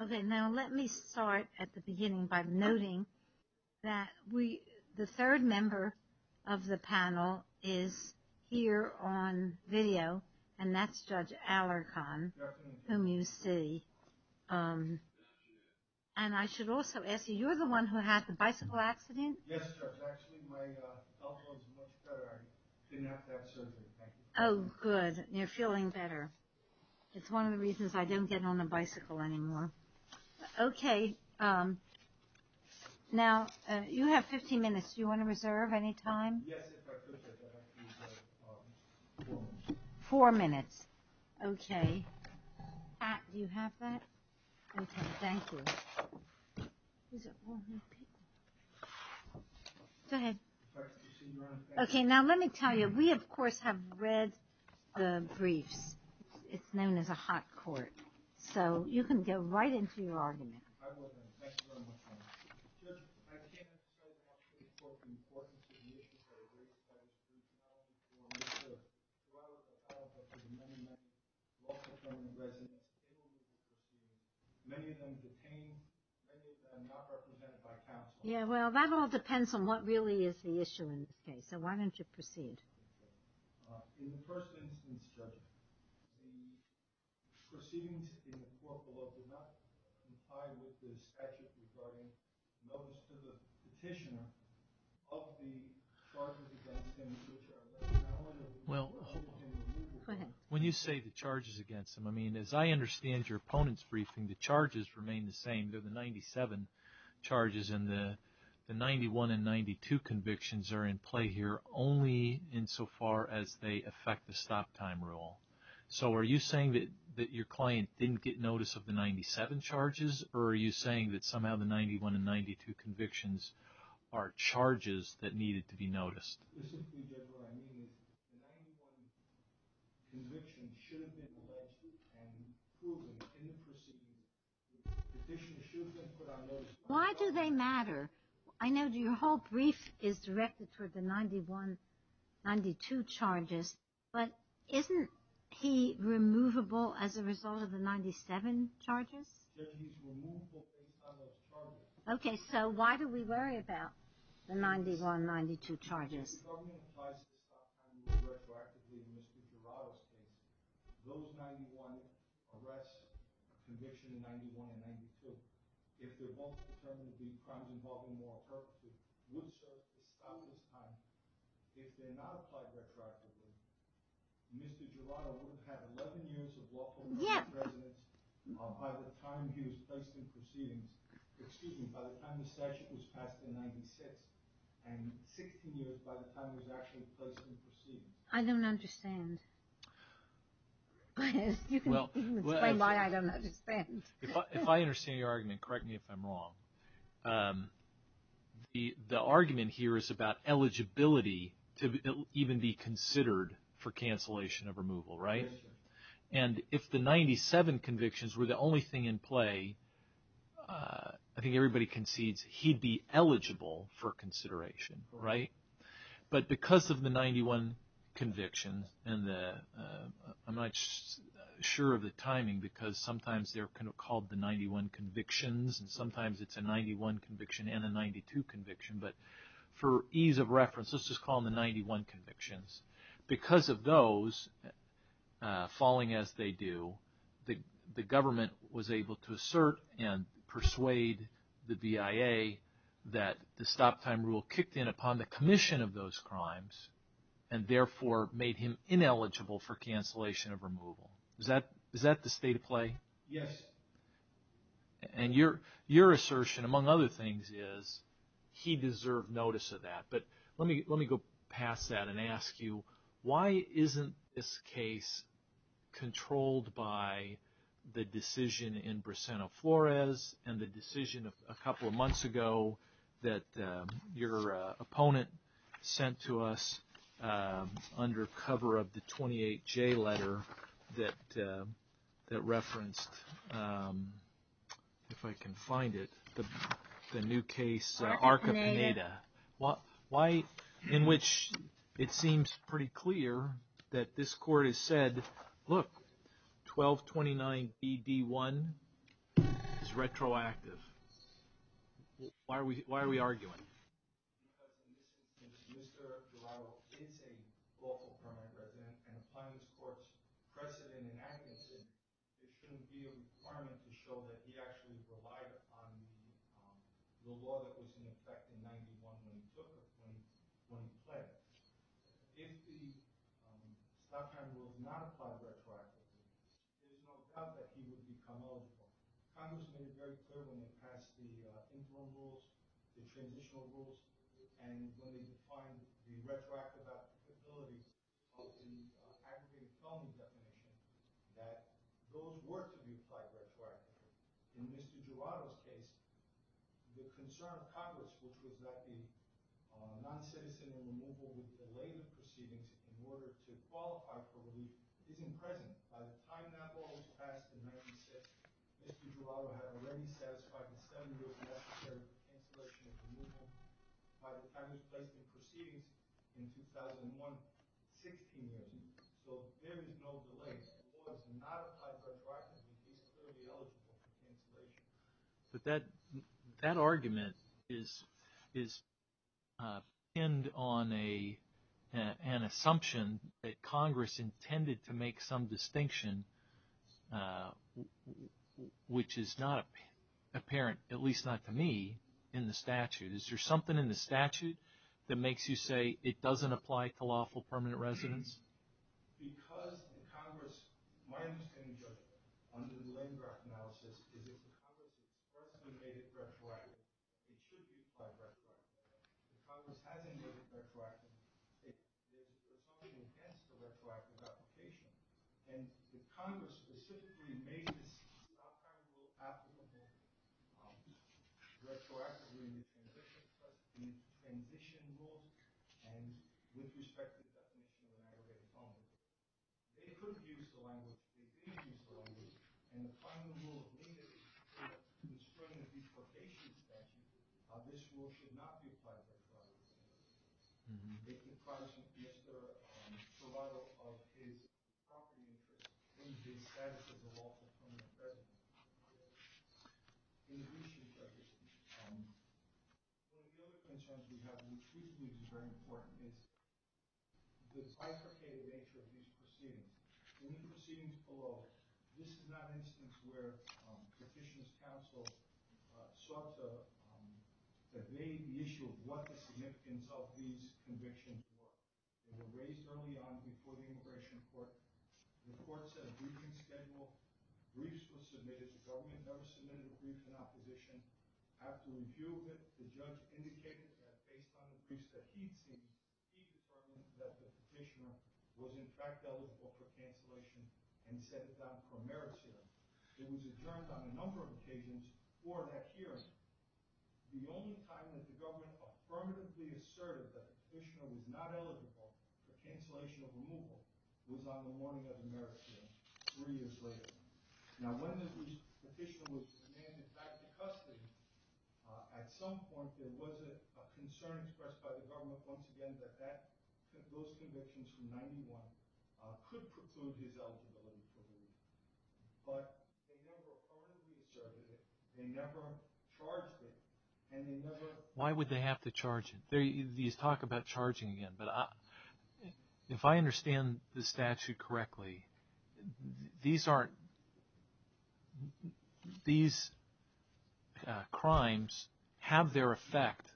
Okay, now let me start at the beginning by noting that the third member of the panel is here on video, and that's Judge Alarcon, whom you see. And I should also ask you, you're the one who had the bicycle accident? Yes, Judge. Actually, my elbow is much better. I didn't have to have surgery. Thank you. Oh, good. You're feeling better. It's one of the reasons I don't get on the bicycle anymore. Okay. Now, you have 15 minutes. Do you want to reserve any time? Yes, if I could, Judge. I'd like to reserve four minutes. Four minutes. Okay. Pat, do you have that? Okay, thank you. Okay, now let me tell you, we of course have read the briefs. It's known as a hot court, so you can get right into your argument. I wasn't. Thank you very much, Your Honor. Judge, I can't tell you how much we support the importance of the issues that are raised by the Supreme Court before we hear it. Throughout the trial, there have been many, many law-determining residents. Many of them detained, many of them not represented by counsel. Yeah, well, that all depends on what really is the issue in this case, so why don't you proceed? In the first instance, Judge, the proceedings in the court below do not comply with the statute regarding notice to the petitioner of the charges against him, which are a matter of law. Well, when you say the charges against him, I mean, as I understand your opponent's briefing, the charges remain the same. They're the 97 charges, and the 91 and 92 convictions are in play here only insofar as they affect the stop-time rule. So are you saying that your client didn't get notice of the 97 charges, or are you saying that somehow the 91 and 92 convictions are charges that needed to be noticed? Listen to me, Judge, what I mean is the 91 convictions should have been alleged and proven in the proceedings. The petitioner should have been put on notice. Why do they matter? I know your whole brief is directed toward the 91, 92 charges, but isn't he removable as a result of the 97 charges? Judge, he's removable based on those charges. Okay, so why do we worry about the 91, 92 charges? If the government applies the stop-time rule retroactively in Mr. Jurado's case, those 91 arrests, conviction in 91 and 92, if they're both determined to be crimes involving moral perpetrators, would serve to stop his time. If they're not applied retroactively, Mr. Jurado would have had 11 years of lawful residence by the time he was placed in proceedings. Excuse me, by the time the statute was passed in 96, and 16 years by the time he was actually placed in proceedings. I don't understand. You can explain why I don't understand. If I understand your argument, correct me if I'm wrong, the argument here is about eligibility to even be considered for cancellation of removal, right? Yes, sir. And if the 97 convictions were the only thing in play, I think everybody concedes he'd be eligible for consideration, right? But because of the 91 convictions, and I'm not sure of the timing because sometimes they're called the 91 convictions, and sometimes it's a 91 conviction and a 92 conviction, but for ease of reference, let's just call them the 91 convictions. Because of those falling as they do, the government was able to assert and persuade the VIA that the stop time rule kicked in upon the commission of those crimes, and therefore made him ineligible for cancellation of removal. Is that the state of play? Yes. And your assertion, among other things, is he deserved notice of that. But let me go past that and ask you, why isn't this case controlled by the decision in Briseno-Flores, and the decision a couple of months ago that your opponent sent to us under cover of the 28J letter that referenced, if I can find it, the new case Arca-Peneda? Arca-Peneda. It's retroactive. Why are we arguing? Because in this instance, Mr. Dorado is a lawful permanent resident, and applying this court's precedent in Adkinson, there shouldn't be a requirement to show that he actually relied upon the law that was in effect in 91 when he took office, when he fled. If the stop time rule had not applied retroactively, there's no doubt that he would become eligible. Congress made it very clear when they passed the interim rules, the transitional rules, and when they defined the retroactive applicability of the aggregated felony definition, that those were to be applied retroactively. In Mr. Dorado's case, the concern of Congress, which was that the non-citizen removal would delay the proceedings in order to qualify for relief, isn't present. By the time that rule was passed in 96, Mr. Dorado had already satisfied the standard of necessary cancellation of removal. By the time it was placed in proceedings in 2001, 16 years, so there is no delay. If the rule is not applied retroactively, he's clearly eligible for cancellation. But that argument is pinned on an assumption that Congress intended to make some distinction, which is not apparent, at least not to me, in the statute. Is there something in the statute that makes you say it doesn't apply to lawful permanent residents? Because in Congress, my understanding of it, under the Landgraf analysis, is that if Congress has personally made it retroactive, it should be applied retroactively. If Congress hasn't made it retroactive, there's something against the retroactive application. And if Congress specifically made this kind of rule after the fact, retroactively, in addition to the condition rules, and with respect to the definition of an aggravated homicide, they could use the language, they did use the language, and the final rule needed to explain the deportation statute, this rule should not be applied by Congress. It requires the survival of his property interest in the status of a lawful permanent resident. One of the other concerns we have, which we believe is very important, is the bifurcated nature of these proceedings. In the proceedings below, this is not an instance where Petitioner's Counsel sought to evade the issue of what the significance of these convictions were. They were raised early on before the immigration court. The court set a briefing schedule. Briefs were submitted. The government never submitted a brief in opposition. After review of it, the judge indicated that based on the briefs that he'd seen, he determined that the Petitioner was in fact eligible for cancellation and set it down for a merit hearing. It was adjourned on a number of occasions before that hearing. The only time that the government affirmatively asserted that the Petitioner was not eligible for cancellation or removal was on the morning of the merit hearing, three years later. Now when the Petitioner was demanded back to custody, at some point there was a concern expressed by the government once again that those convictions from 1991 could preclude his eligibility for removal. But they never affirmatively asserted it. They never charged it. Why would they have to charge it? These talk about charging again, but if I understand the statute correctly, these crimes have their effect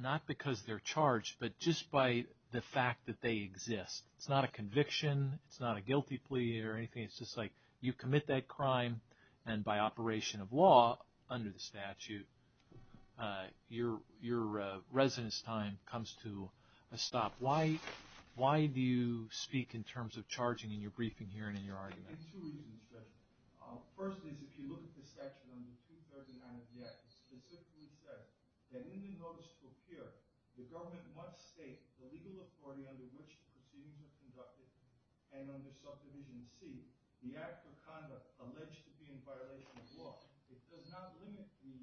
not because they're charged, but just by the fact that they exist. It's not a conviction. It's not a guilty plea or anything. It's just like you commit that crime and by operation of law under the statute, your residence time comes to a stop. Why do you speak in terms of charging in your briefing here and in your argument? In two reasons. First is if you look at the statute under 239 of the Act, it specifically says that in the notice to appear, the government must state the legal authority under which the proceedings are conducted and under subdivision C, the act of conduct alleged to be in violation of law. It does not limit the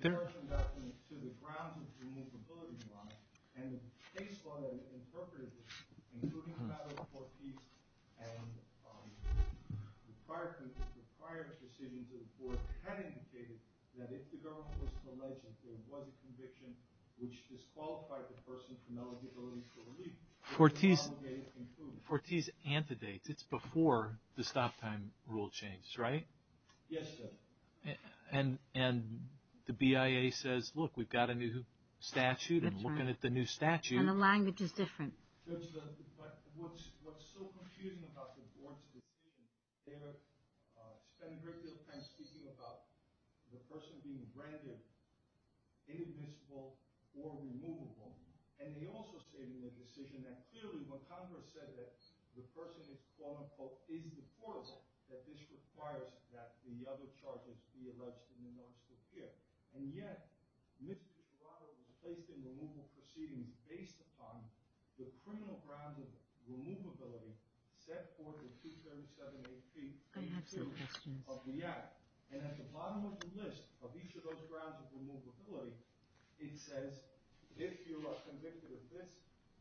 terms of conduct to the grounds of the removability law. And the case law that it interpreted, including the matter of Fortese and the prior decision to the court, had indicated that if the government was to allege that there was a conviction which disqualified the person from eligibility for relief, it was obligated to include it. So Fortese antedates. It's before the stop time rule changes, right? Yes, sir. And the BIA says, look, we've got a new statute and looking at the new statute. And the language is different. But what's so confusing about the board's decision, they spent a great deal of time speaking about the person being rendered inadmissible or removable. And they also stated in their decision that clearly when Congress said that the person is, quote unquote, is deportable, that this requires that the other charges be alleged in the notice to appear. And yet, Mr. Gerardo was placed in removal proceedings based upon the criminal grounds of removability set forth in 237 AP of the act. And at the bottom of the list of each of those grounds of removability, it says, if you are convicted of this,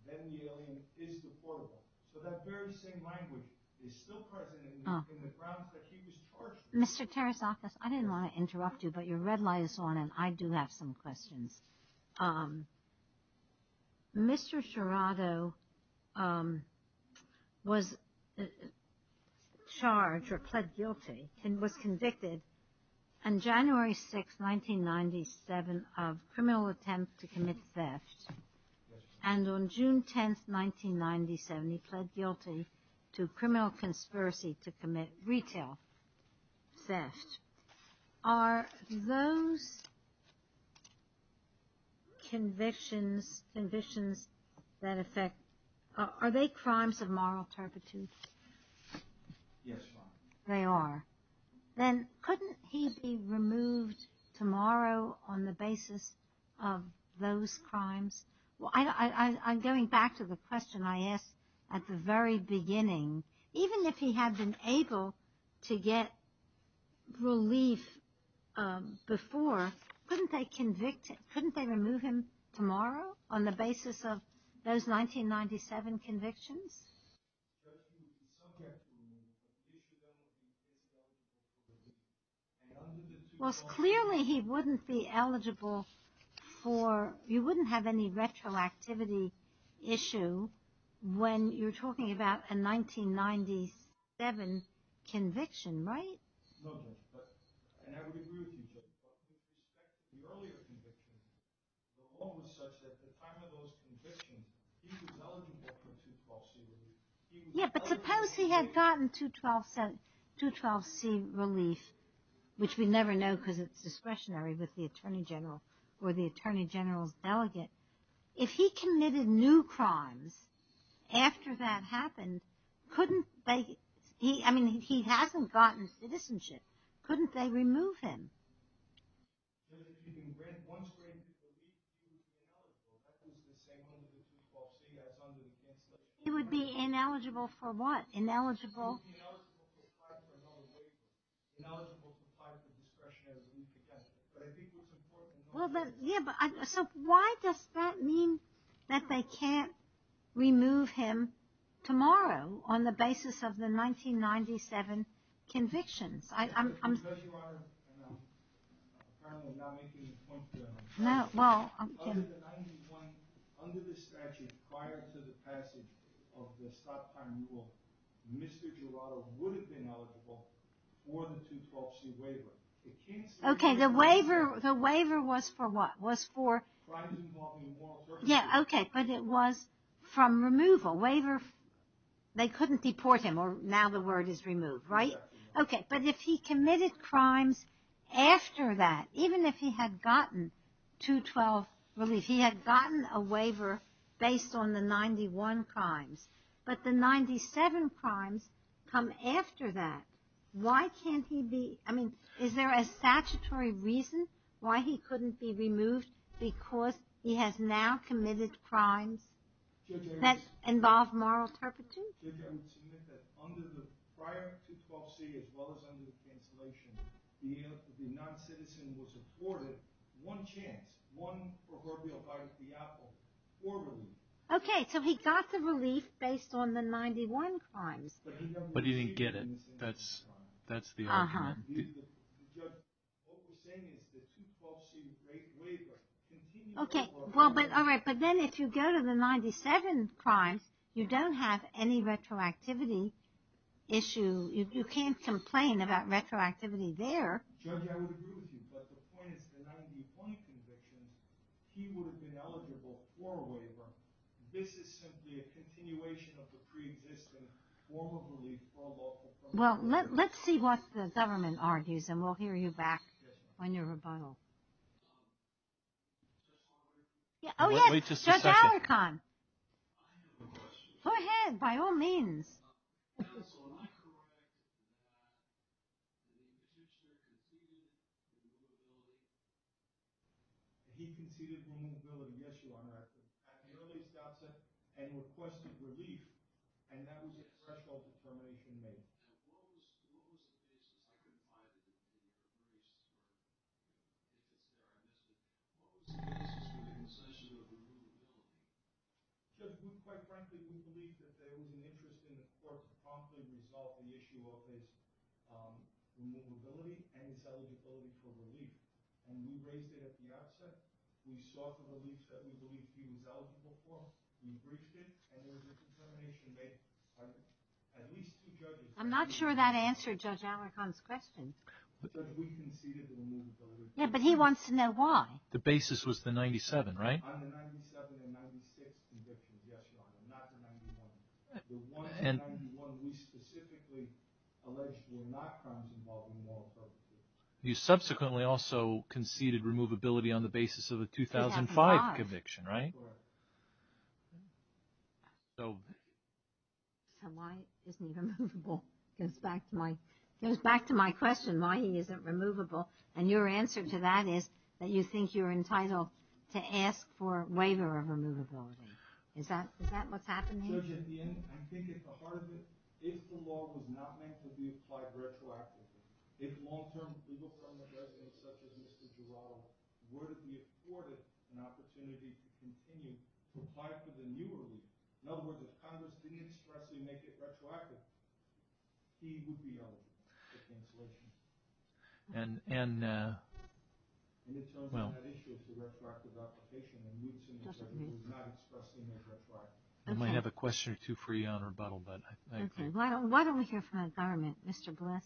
then the alien is deportable. So that very same language is still present in the grounds that he was charged with. Mr. Tarasakis, I didn't want to interrupt you, but your red light is on and I do have some questions. Mr. Gerardo was charged or pled guilty and was convicted on January 6, 1997 of criminal attempt to commit theft. And on June 10, 1997, he pled guilty to criminal conspiracy to commit retail theft. Are those convictions that affect, are they crimes of moral turpitude? Yes, ma'am. They are. Then couldn't he be removed tomorrow on the basis of those crimes? I'm going back to the question I asked at the very beginning. Even if he had been able to get relief before, couldn't they remove him tomorrow on the basis of those 1997 convictions? Well, clearly he wouldn't be eligible for, you wouldn't have any retroactivity issue when you're talking about a 1997 conviction, right? And I would agree with you, but with respect to the earlier convictions, the law was such that at the time of those convictions, he was eligible for 212C relief. Yeah, but suppose he had gotten 212C relief, which we never know because it's discretionary with the Attorney General or the Attorney General's delegate. If he committed new crimes after that happened, couldn't they, I mean, he hasn't gotten citizenship. Couldn't they remove him? He would be ineligible for what? Ineligible? He would be ineligible to apply for another waiver. Ineligible to apply for discretionary relief again. But I think what's important is... Yeah, but so why does that mean that they can't remove him tomorrow on the basis of the 1997 convictions? Because Your Honor, and I'm apparently not making a point here. No, well... Under the statute prior to the passage of the stop time rule, Mr. Jurado would have been eligible for the 212C waiver. Okay, the waiver was for what? Crimes involving immoral purposes. Yeah, okay, but it was from removal. They couldn't deport him, or now the word is removed, right? Okay, but if he committed crimes after that, even if he had gotten 212 relief, he had gotten a waiver based on the 91 crimes. But the 97 crimes come after that. Why can't he be, I mean, is there a statutory reason why he couldn't be removed because he has now committed crimes that involve moral turpitude? Judge, I would submit that prior to 212C, as well as under the cancellation, the non-citizen was afforded one chance, one proverbial bite at the apple for relief. Okay, so he got the relief based on the 91 crimes. But he didn't get it. That's the argument. Uh-huh. Judge, what we're saying is the 212C rate waiver continues... Okay, well, but, all right, but then if you go to the 97 crimes, you don't have any retroactivity issue. You can't complain about retroactivity there. Judge, I would agree with you, but the point is the 91 convictions, he would have been eligible for a waiver. This is simply a continuation of the pre-existing form of relief from the... Well, let's see what the government argues, and we'll hear you back on your rebuttal. Oh, yes, Judge Alicorn. Go ahead, by all means. Now, so when I corroborated the fact that the musician conceded removability... He conceded removability. Yes, Your Honor. At the earliest outset, and requested relief, and that was a threshold determination made. Now, what was the basis? I couldn't find it in any of the cases. What was the basis for the concession of removability? Judge, quite frankly, we believe that there was an interest in the court to promptly resolve the issue of his removability and his eligibility for relief. And we raised it at the outset. We sought the relief that we believed he was eligible for. We briefed it, and there was a determination made by at least two judges. I'm not sure that answered Judge Alicorn's question. Judge, we conceded the removability. Yes, but he wants to know why. The basis was the 97, right? On the 97 and 96 convictions, yes, Your Honor. Not the 91. The one, the 91 we specifically alleged were not crimes involving moral prejudice. You subsequently also conceded removability on the basis of a 2005 conviction, right? Correct. So... So why isn't he removable? It goes back to my question, why he isn't removable. And your answer to that is that you think you're entitled to ask for a waiver of removability. Is that what's happened here? Judge, at the end, I think at the heart of it, if the law was not meant to be applied retroactively, if long-term legal permanent residents such as Mr. Gerardo were to be afforded an opportunity to continue to apply for the new relief, in other words, if Congress didn't expressly make it retroactive, he would be eligible for cancellation. And in terms of that issue of retroactive application, it would not expressly make retroactive. We might have a question or two for you, Your Honor, but... Okay. Why don't we hear from the government? Mr. Bless.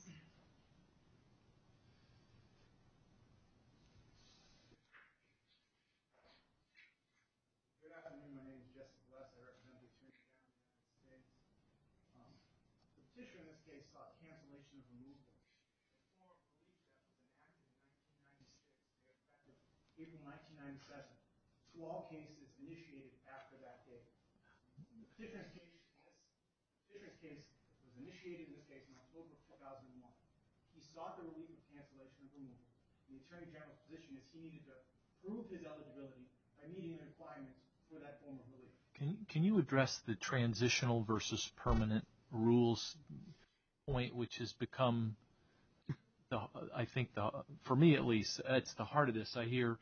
Good afternoon. My name is Jesse Bless. Thank you. The petitioner in this case sought cancellation of removability. The court ruled that in April 1997, to all cases initiated after that date. The petitioner's case was initiated in this case in October of 2001. He sought the relief of cancellation of removable. The Attorney General's position is he needed to prove his eligibility by meeting the requirements for that form of relief. Can you address the transitional versus permanent rules point, which has become, I think, for me at least, it's the heart of this. I hear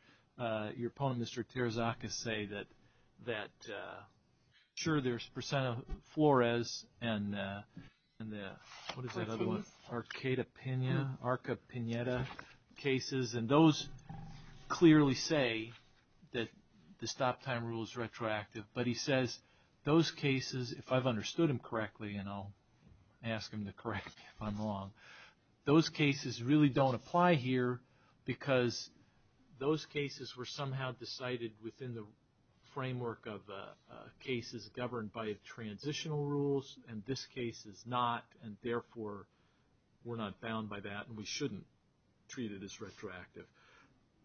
your opponent, Mr. Terzacca, say that, sure, there's percent of Flores and the, what is that other one? Arcata-Piñera. Arcata-Piñera cases. And those clearly say that the stop time rule is retroactive, but he says those cases, if I've understood him correctly, and I'll ask him to correct me if I'm wrong, those cases really don't apply here because those cases were somehow decided within the framework of cases governed by transitional rules, and this case is not, and therefore, we're not bound by that and we shouldn't treat it as retroactive.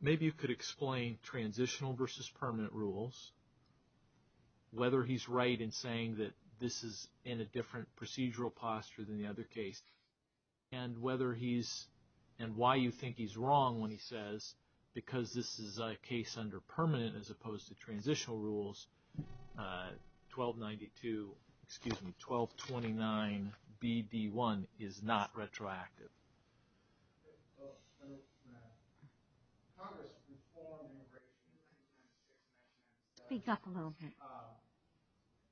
Maybe you could explain transitional versus permanent rules, whether he's right in saying that this is in a different procedural posture than the other case, and whether he's, and why you think he's wrong when he says, because this is a case under permanent as opposed to transitional rules, 1292, excuse me, 1229BD1 is not retroactive. Speak up a little bit.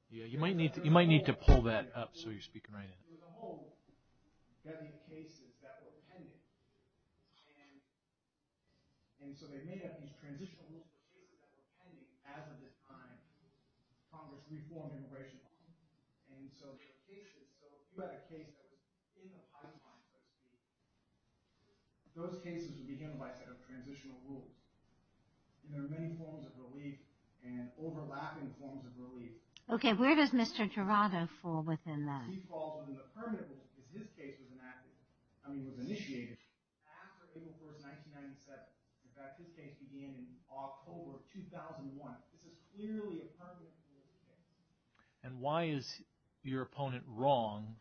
Yeah, you might need to pull that up so you're speaking right in. There were cases that were pending, and so they made up these transitional cases that were pending as of this time. Congress reformed immigration law, and so if you had a case that was in the pipeline, those cases would be governed by a set of transitional rules, and there are many forms of relief and overlapping forms of relief. Okay, where does Mr. Jurado fall within that? He falls within the permanent rule because his case was enacted, I mean, was initiated after April 1, 1997. In fact, his case began in October of 2001. This is clearly a permanent rule. And why is your opponent wrong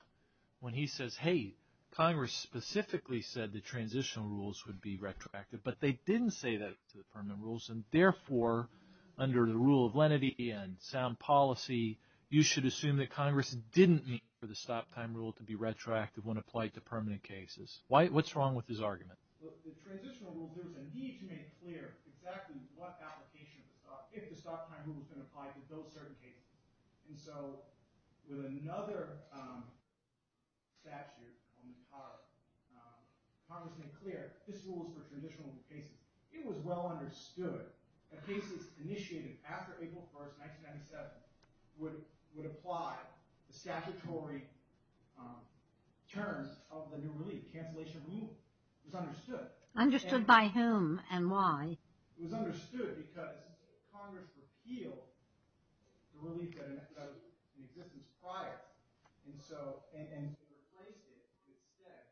when he says, hey, Congress specifically said the transitional rules would be retroactive, but they didn't say that to the permanent rules, and therefore, under the rule of lenity and sound policy, you should assume that Congress didn't mean for the stop time rule to be retroactive when applied to permanent cases. What's wrong with his argument? Well, the transitional rule, there was a need to make clear exactly what application of the stop, if the stop time rule was going to apply to those certain cases. And so with another statute, Congress made clear this rule was for transitional cases. It was well understood that cases initiated after April 1, 1997 would apply the statutory terms of the new relief, cancellation of removal. It was understood. Understood by whom and why? It was understood because Congress repealed the relief that was in existence prior, and replaced it instead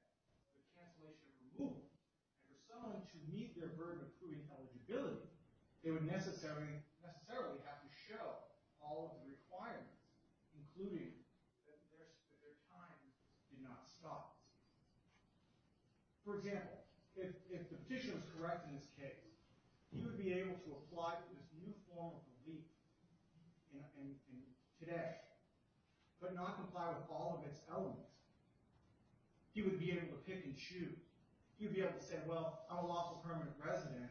with cancellation of removal. And for someone to meet their burden of proving eligibility, they would necessarily have to show all of the requirements, including that their time did not stop. For example, if the petition was correct in this case, he would be able to apply for this new form of relief today, but not comply with all of its elements. He would be able to pick and choose. He would be able to say, well, I'm a lawful permanent resident.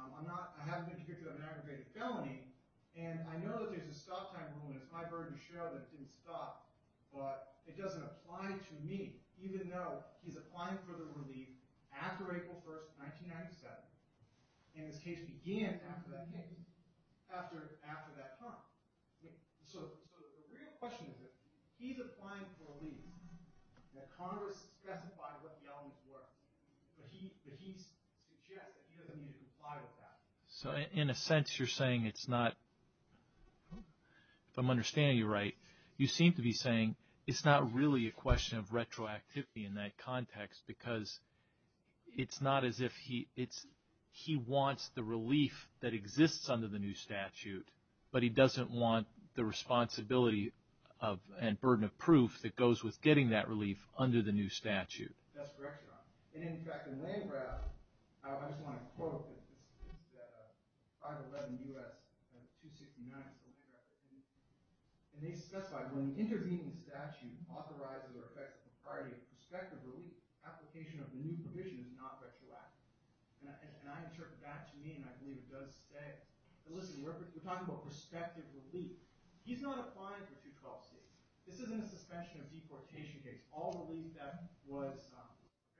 I haven't been here to have an aggravated felony. And I know that there's a stop time rule, and it's my burden to show that it didn't stop. But it doesn't apply to me, even though he's applying for the relief after April 1, 1997. And this case began after that date, after that time. So the real question is that he's applying for relief, that Congress specified what the elements were, but he suggests that he doesn't need to comply with that. So in a sense, you're saying it's not – if I'm understanding you right, you seem to be saying it's not really a question of retroactivity in that context, because it's not as if he – it's he wants the relief that exists under the new statute, but he doesn't want the responsibility and burden of proof that goes with getting that relief under the new statute. That's correct, Your Honor. And in fact, in Landgraf – I just want to quote that 511 U.S. 269, so Landgraf 18, and they specify, when the intervening statute authorizes or affects the propriety of prospective relief, application of the new provision is not retroactive. And I interpret that to mean – I believe it does say – listen, we're talking about prospective relief. He's not applying for 212 states. This isn't a suspension of deportation case. This is all relief that was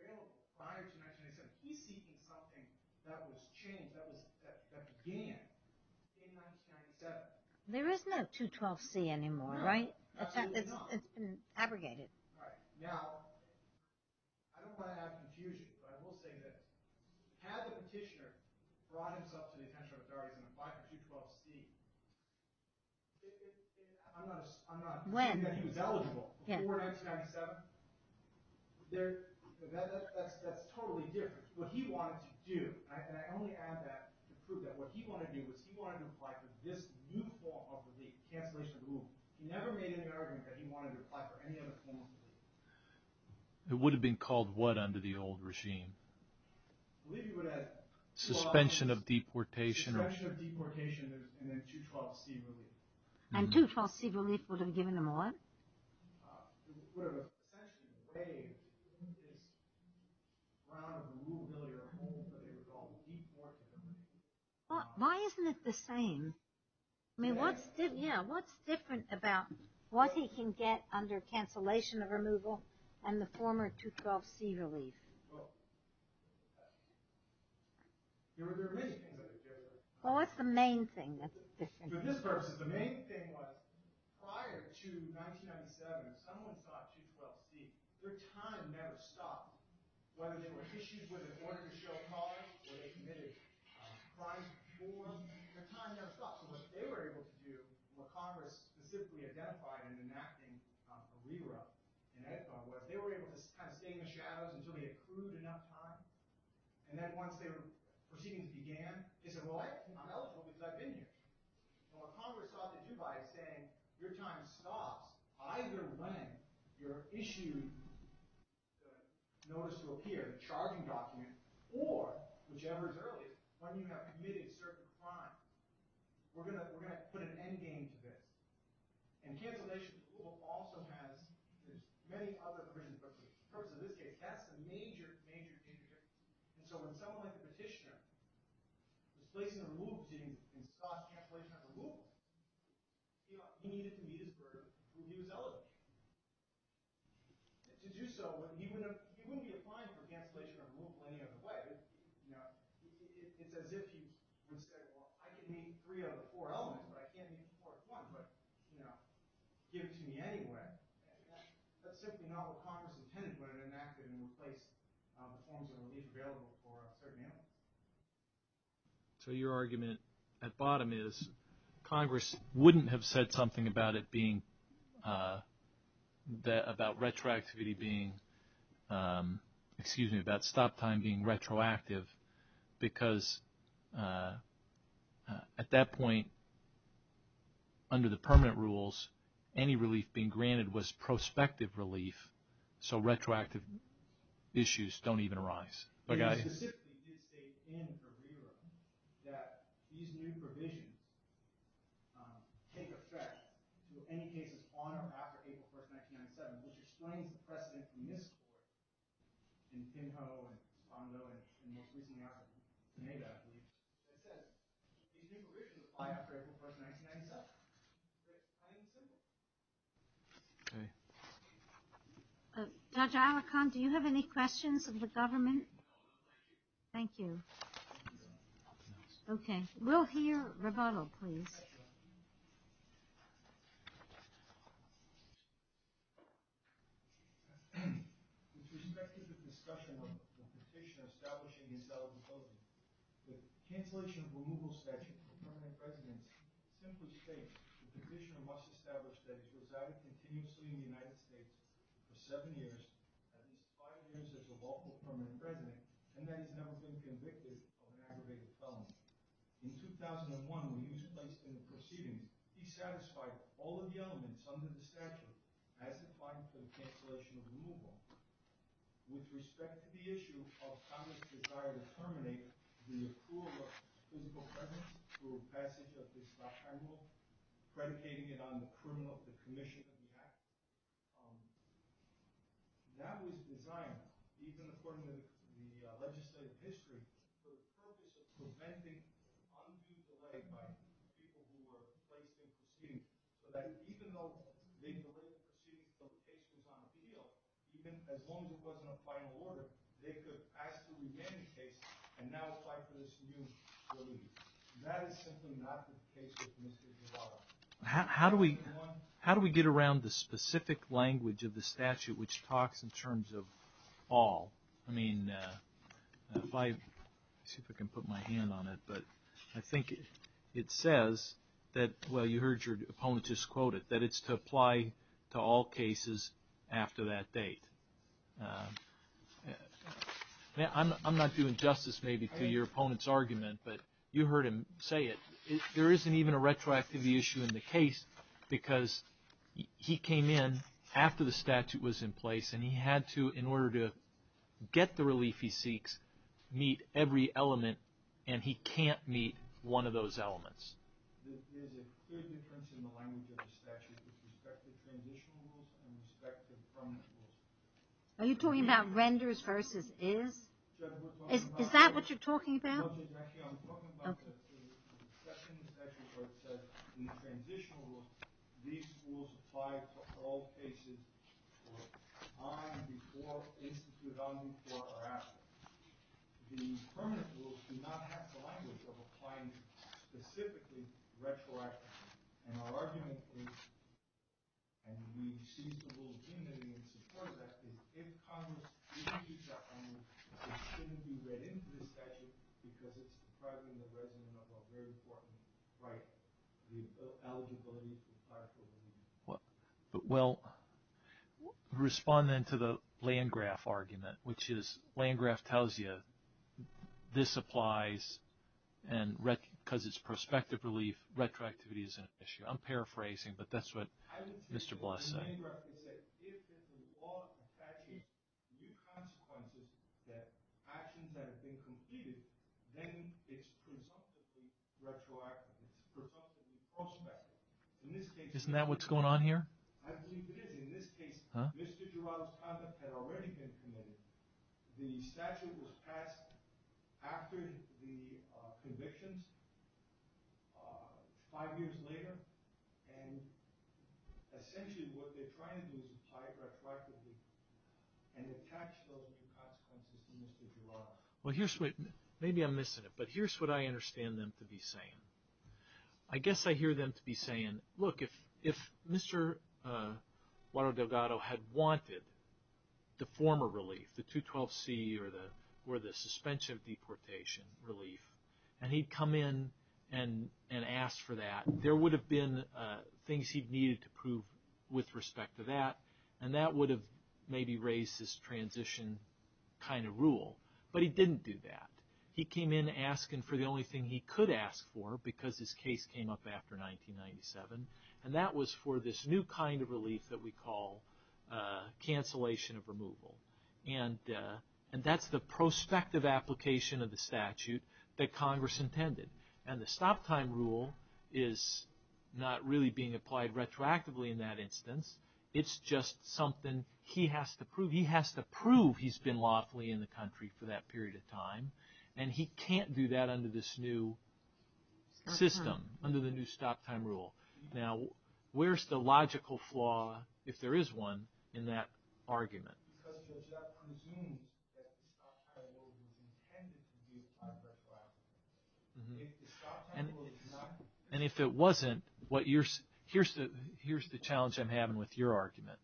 available prior to 1997. He's seeking something that was changed, that began in 1997. There is no 212C anymore, right? Absolutely not. It's been abrogated. Right. Now, I don't want to have confusion, but I will say that had the petitioner brought himself to the attention of authorities and applied for 212C, I'm not – When? I mean that he was eligible before 1997. That's totally different. What he wanted to do – and I only add that to prove that – what he wanted to do was he wanted to apply for this new form of relief, cancellation of the rule. He never made an argument that he wanted to apply for any other form of relief. It would have been called what under the old regime? I believe he would have – Suspension of deportation. Suspension of deportation and then 212C relief. And 212C relief would have given him what? It would have essentially waived this round of removal of your home that they would call deportment. Why isn't it the same? I mean, what's different about what he can get under cancellation of removal and the former 212C relief? Well, there are many things that are different. Well, what's the main thing that's different? For this purpose, the main thing was prior to 1997, if someone sought 212C, their time never stopped. Whether they were issued with an order to show cause or they committed crimes before, their time never stopped. So what they were able to do, what Congress specifically identified in enacting a re-run in Edithville, was they were able to kind of stay in the shadows until they accrued enough time. And then once their proceedings began, they said, well, I'm eligible because I've been here. Well, what Congress saw to do by it is saying, your time stops either when you're issued a notice to appear, a charging document, or, whichever is earlier, when you have committed a certain crime. We're going to put an endgame to this. And cancellation of removal also has many other provisions. But for the purpose of this case, that's a major, major, major difference. And so when someone like the petitioner was placing a move to stop cancellation of removal, he needed to meet his burden when he was eligible. And to do so, he wouldn't be applying for cancellation of removal any other way. It's as if he would say, well, I can name three out of the four elements, but I can't name the fourth one. But give it to me anyway. That's simply not what Congress intended when it enacted and replaced the forms of relief available for a certain amount. So your argument at bottom is Congress wouldn't have said something about it being, about retroactivity being, excuse me, about stop time being retroactive because at that point, under the permanent rules, any relief being granted was prospective relief, so retroactive issues don't even arise. You specifically did state in the re-run that these new provisions take effect in any cases on or after April 1st, 1997, which explains the precedent in this court in Pinho and Pondo and most recently out of Nevada, I believe. It says these new provisions apply after April 1st, 1997. Is that plain and simple? Okay. Judge Alecant, do you have any questions of the government? Thank you. We'll hear rebuttal, please. Thank you, Your Honor. With respect to the discussion of the petition establishing the insolvency, the cancellation of removal statute for permanent residence simply states the petitioner must establish that he's resided continuously in the United States for seven years, at least five years as a lawful permanent resident, and that he's never been convicted of an aggravated felony. In 2001, when he was placed in the proceeding, he satisfied all of the elements under the statute as applied to the cancellation of removal. With respect to the issue of Congress's desire to terminate the accrual of physical presence through passage of this law, I will be predicating it on the criminal commission of the act. That was designed, even according to the legislative history, for the purpose of preventing an undue delay by people who were placed in the proceeding, so that even though they delayed the proceeding until the case was on appeal, even as long as it wasn't a final order, they could ask to remain in the case and now apply for this new relief. That is simply not the case with Mr. Giroir. How do we get around the specific language of the statute which talks in terms of all? I mean, if I can put my hand on it, but I think it says that, well, you heard your opponent just quote it, that it's to apply to all cases after that date. I'm not doing justice, maybe, to your opponent's argument, but you heard him say it. There isn't even a retroactivity issue in the case because he came in after the statute was in place, and he had to, in order to get the relief he seeks, meet every element, and he can't meet one of those elements. There is a clear difference in the language of the statute with respect to transitional rules and respect to the permanent rules. Are you talking about renders versus is? Is that what you're talking about? Actually, I'm talking about the second statute where it says in the transitional rules, these rules apply to all cases on, before, instituted on, before, or after. The permanent rules do not have the language of applying specifically retroactively, and our argument is, and we cease to rule in support of that, is if Congress issues that amendment, it shouldn't be read into the statute because it's depriving the resident of a very important right, the eligibility to apply for relief. Well, respond then to the Landgraf argument, which is, Landgraf tells you this applies, and because it's prospective relief, retroactivity is an issue. I'm paraphrasing, but that's what Mr. Bluss said. Landgraf said if the law attaches new consequences to actions that have been completed, then it's presumptively retroactive, it's presumptively prospective. Isn't that what's going on here? I believe it is. In this case, Mr. Giroir's conduct had already been committed. The statute was passed after the convictions, five years later, and essentially what they're trying to do is apply retroactively and attach those new consequences to Mr. Giroir. Well, maybe I'm missing it, but here's what I understand them to be saying. I guess I hear them to be saying, look, if Mr. Guaro Delgado had wanted the former relief, the 212C or the suspension of deportation relief, and he'd come in and ask for that, there would have been things he needed to prove with respect to that, and that would have maybe raised this transition kind of rule. But he didn't do that. He came in asking for the only thing he could ask for, because his case came up after 1997, and that was for this new kind of relief that we call cancellation of removal. And that's the prospective application of the statute that Congress intended. And the stop-time rule is not really being applied retroactively in that instance. It's just something he has to prove. He has to prove he's been lawfully in the country for that period of time, and he can't do that under this new system, under the new stop-time rule. Now, where's the logical flaw, if there is one, in that argument? And if it wasn't, here's the challenge I'm having with your argument.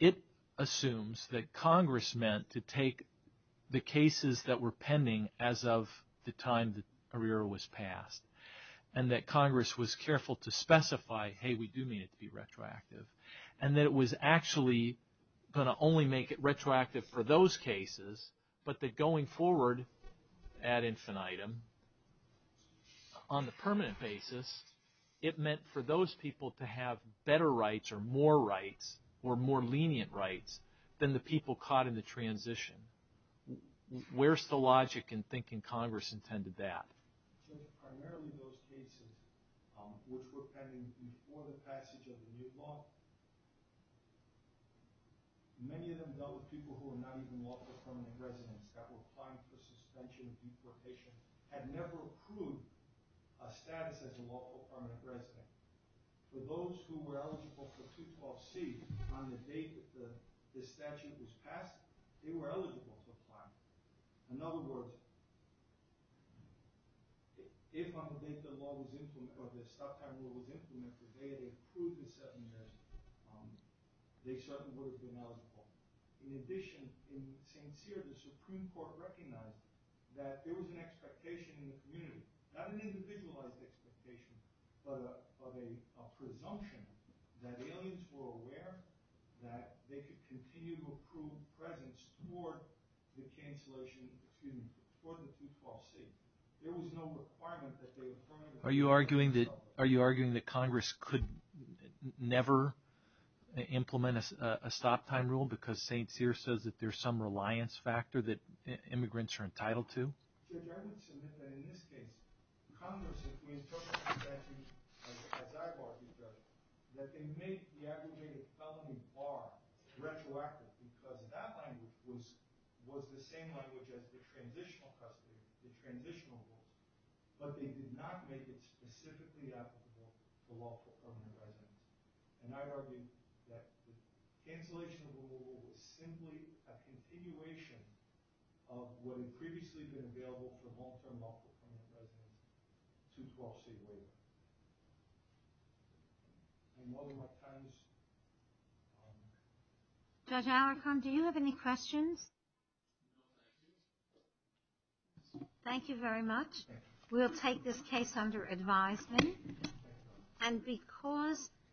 It assumes that Congress meant to take the cases that were pending as of the time that Herrera was passed, and that Congress was careful to specify, hey, we do need it to be retroactive, and that it was actually going to only make it retroactive for those cases, but that going forward ad infinitum, on the permanent basis, it meant for those people to have better rights or more rights or more lenient rights than the people caught in the transition. Where's the logic in thinking Congress intended that? Primarily those cases which were pending before the passage of the new law. Many of them dealt with people who were not even lawful permanent residents that were applying for suspension of deportation, had never approved a status as a lawful permanent resident. For those who were eligible for 212C on the date that this statute was passed, they were eligible for climate. In other words, if on the date the law was implemented, or the stop time rule was implemented, the day they approved the settlement, they certainly would have been eligible. In addition, in St. Cyr, the Supreme Court recognized that there was an expectation in the community, not an individualized expectation, but a presumption that aliens were aware that they could continue to approve presence for the cancellation, excuse me, for the 212C. There was no requirement that they were permanent residents. Are you arguing that Congress could never implement a stop time rule because St. Cyr says that there's some reliance factor that immigrants are entitled to? Judge, I would submit that in this case, Congress, as I've argued, Judge, that they make the aggravated felony bar retroactive because that language was the same language as the transitional custody, the transitional rule, but they did not make it specifically applicable to lawful permanent residents. And I argue that the cancellation of the rule was simply a continuation of what had previously been available for long-term lawful permanent residents, 212C waiver. Any more questions? Judge Alarcon, do you have any questions? Thank you very much. We'll take this case under advisement. And because...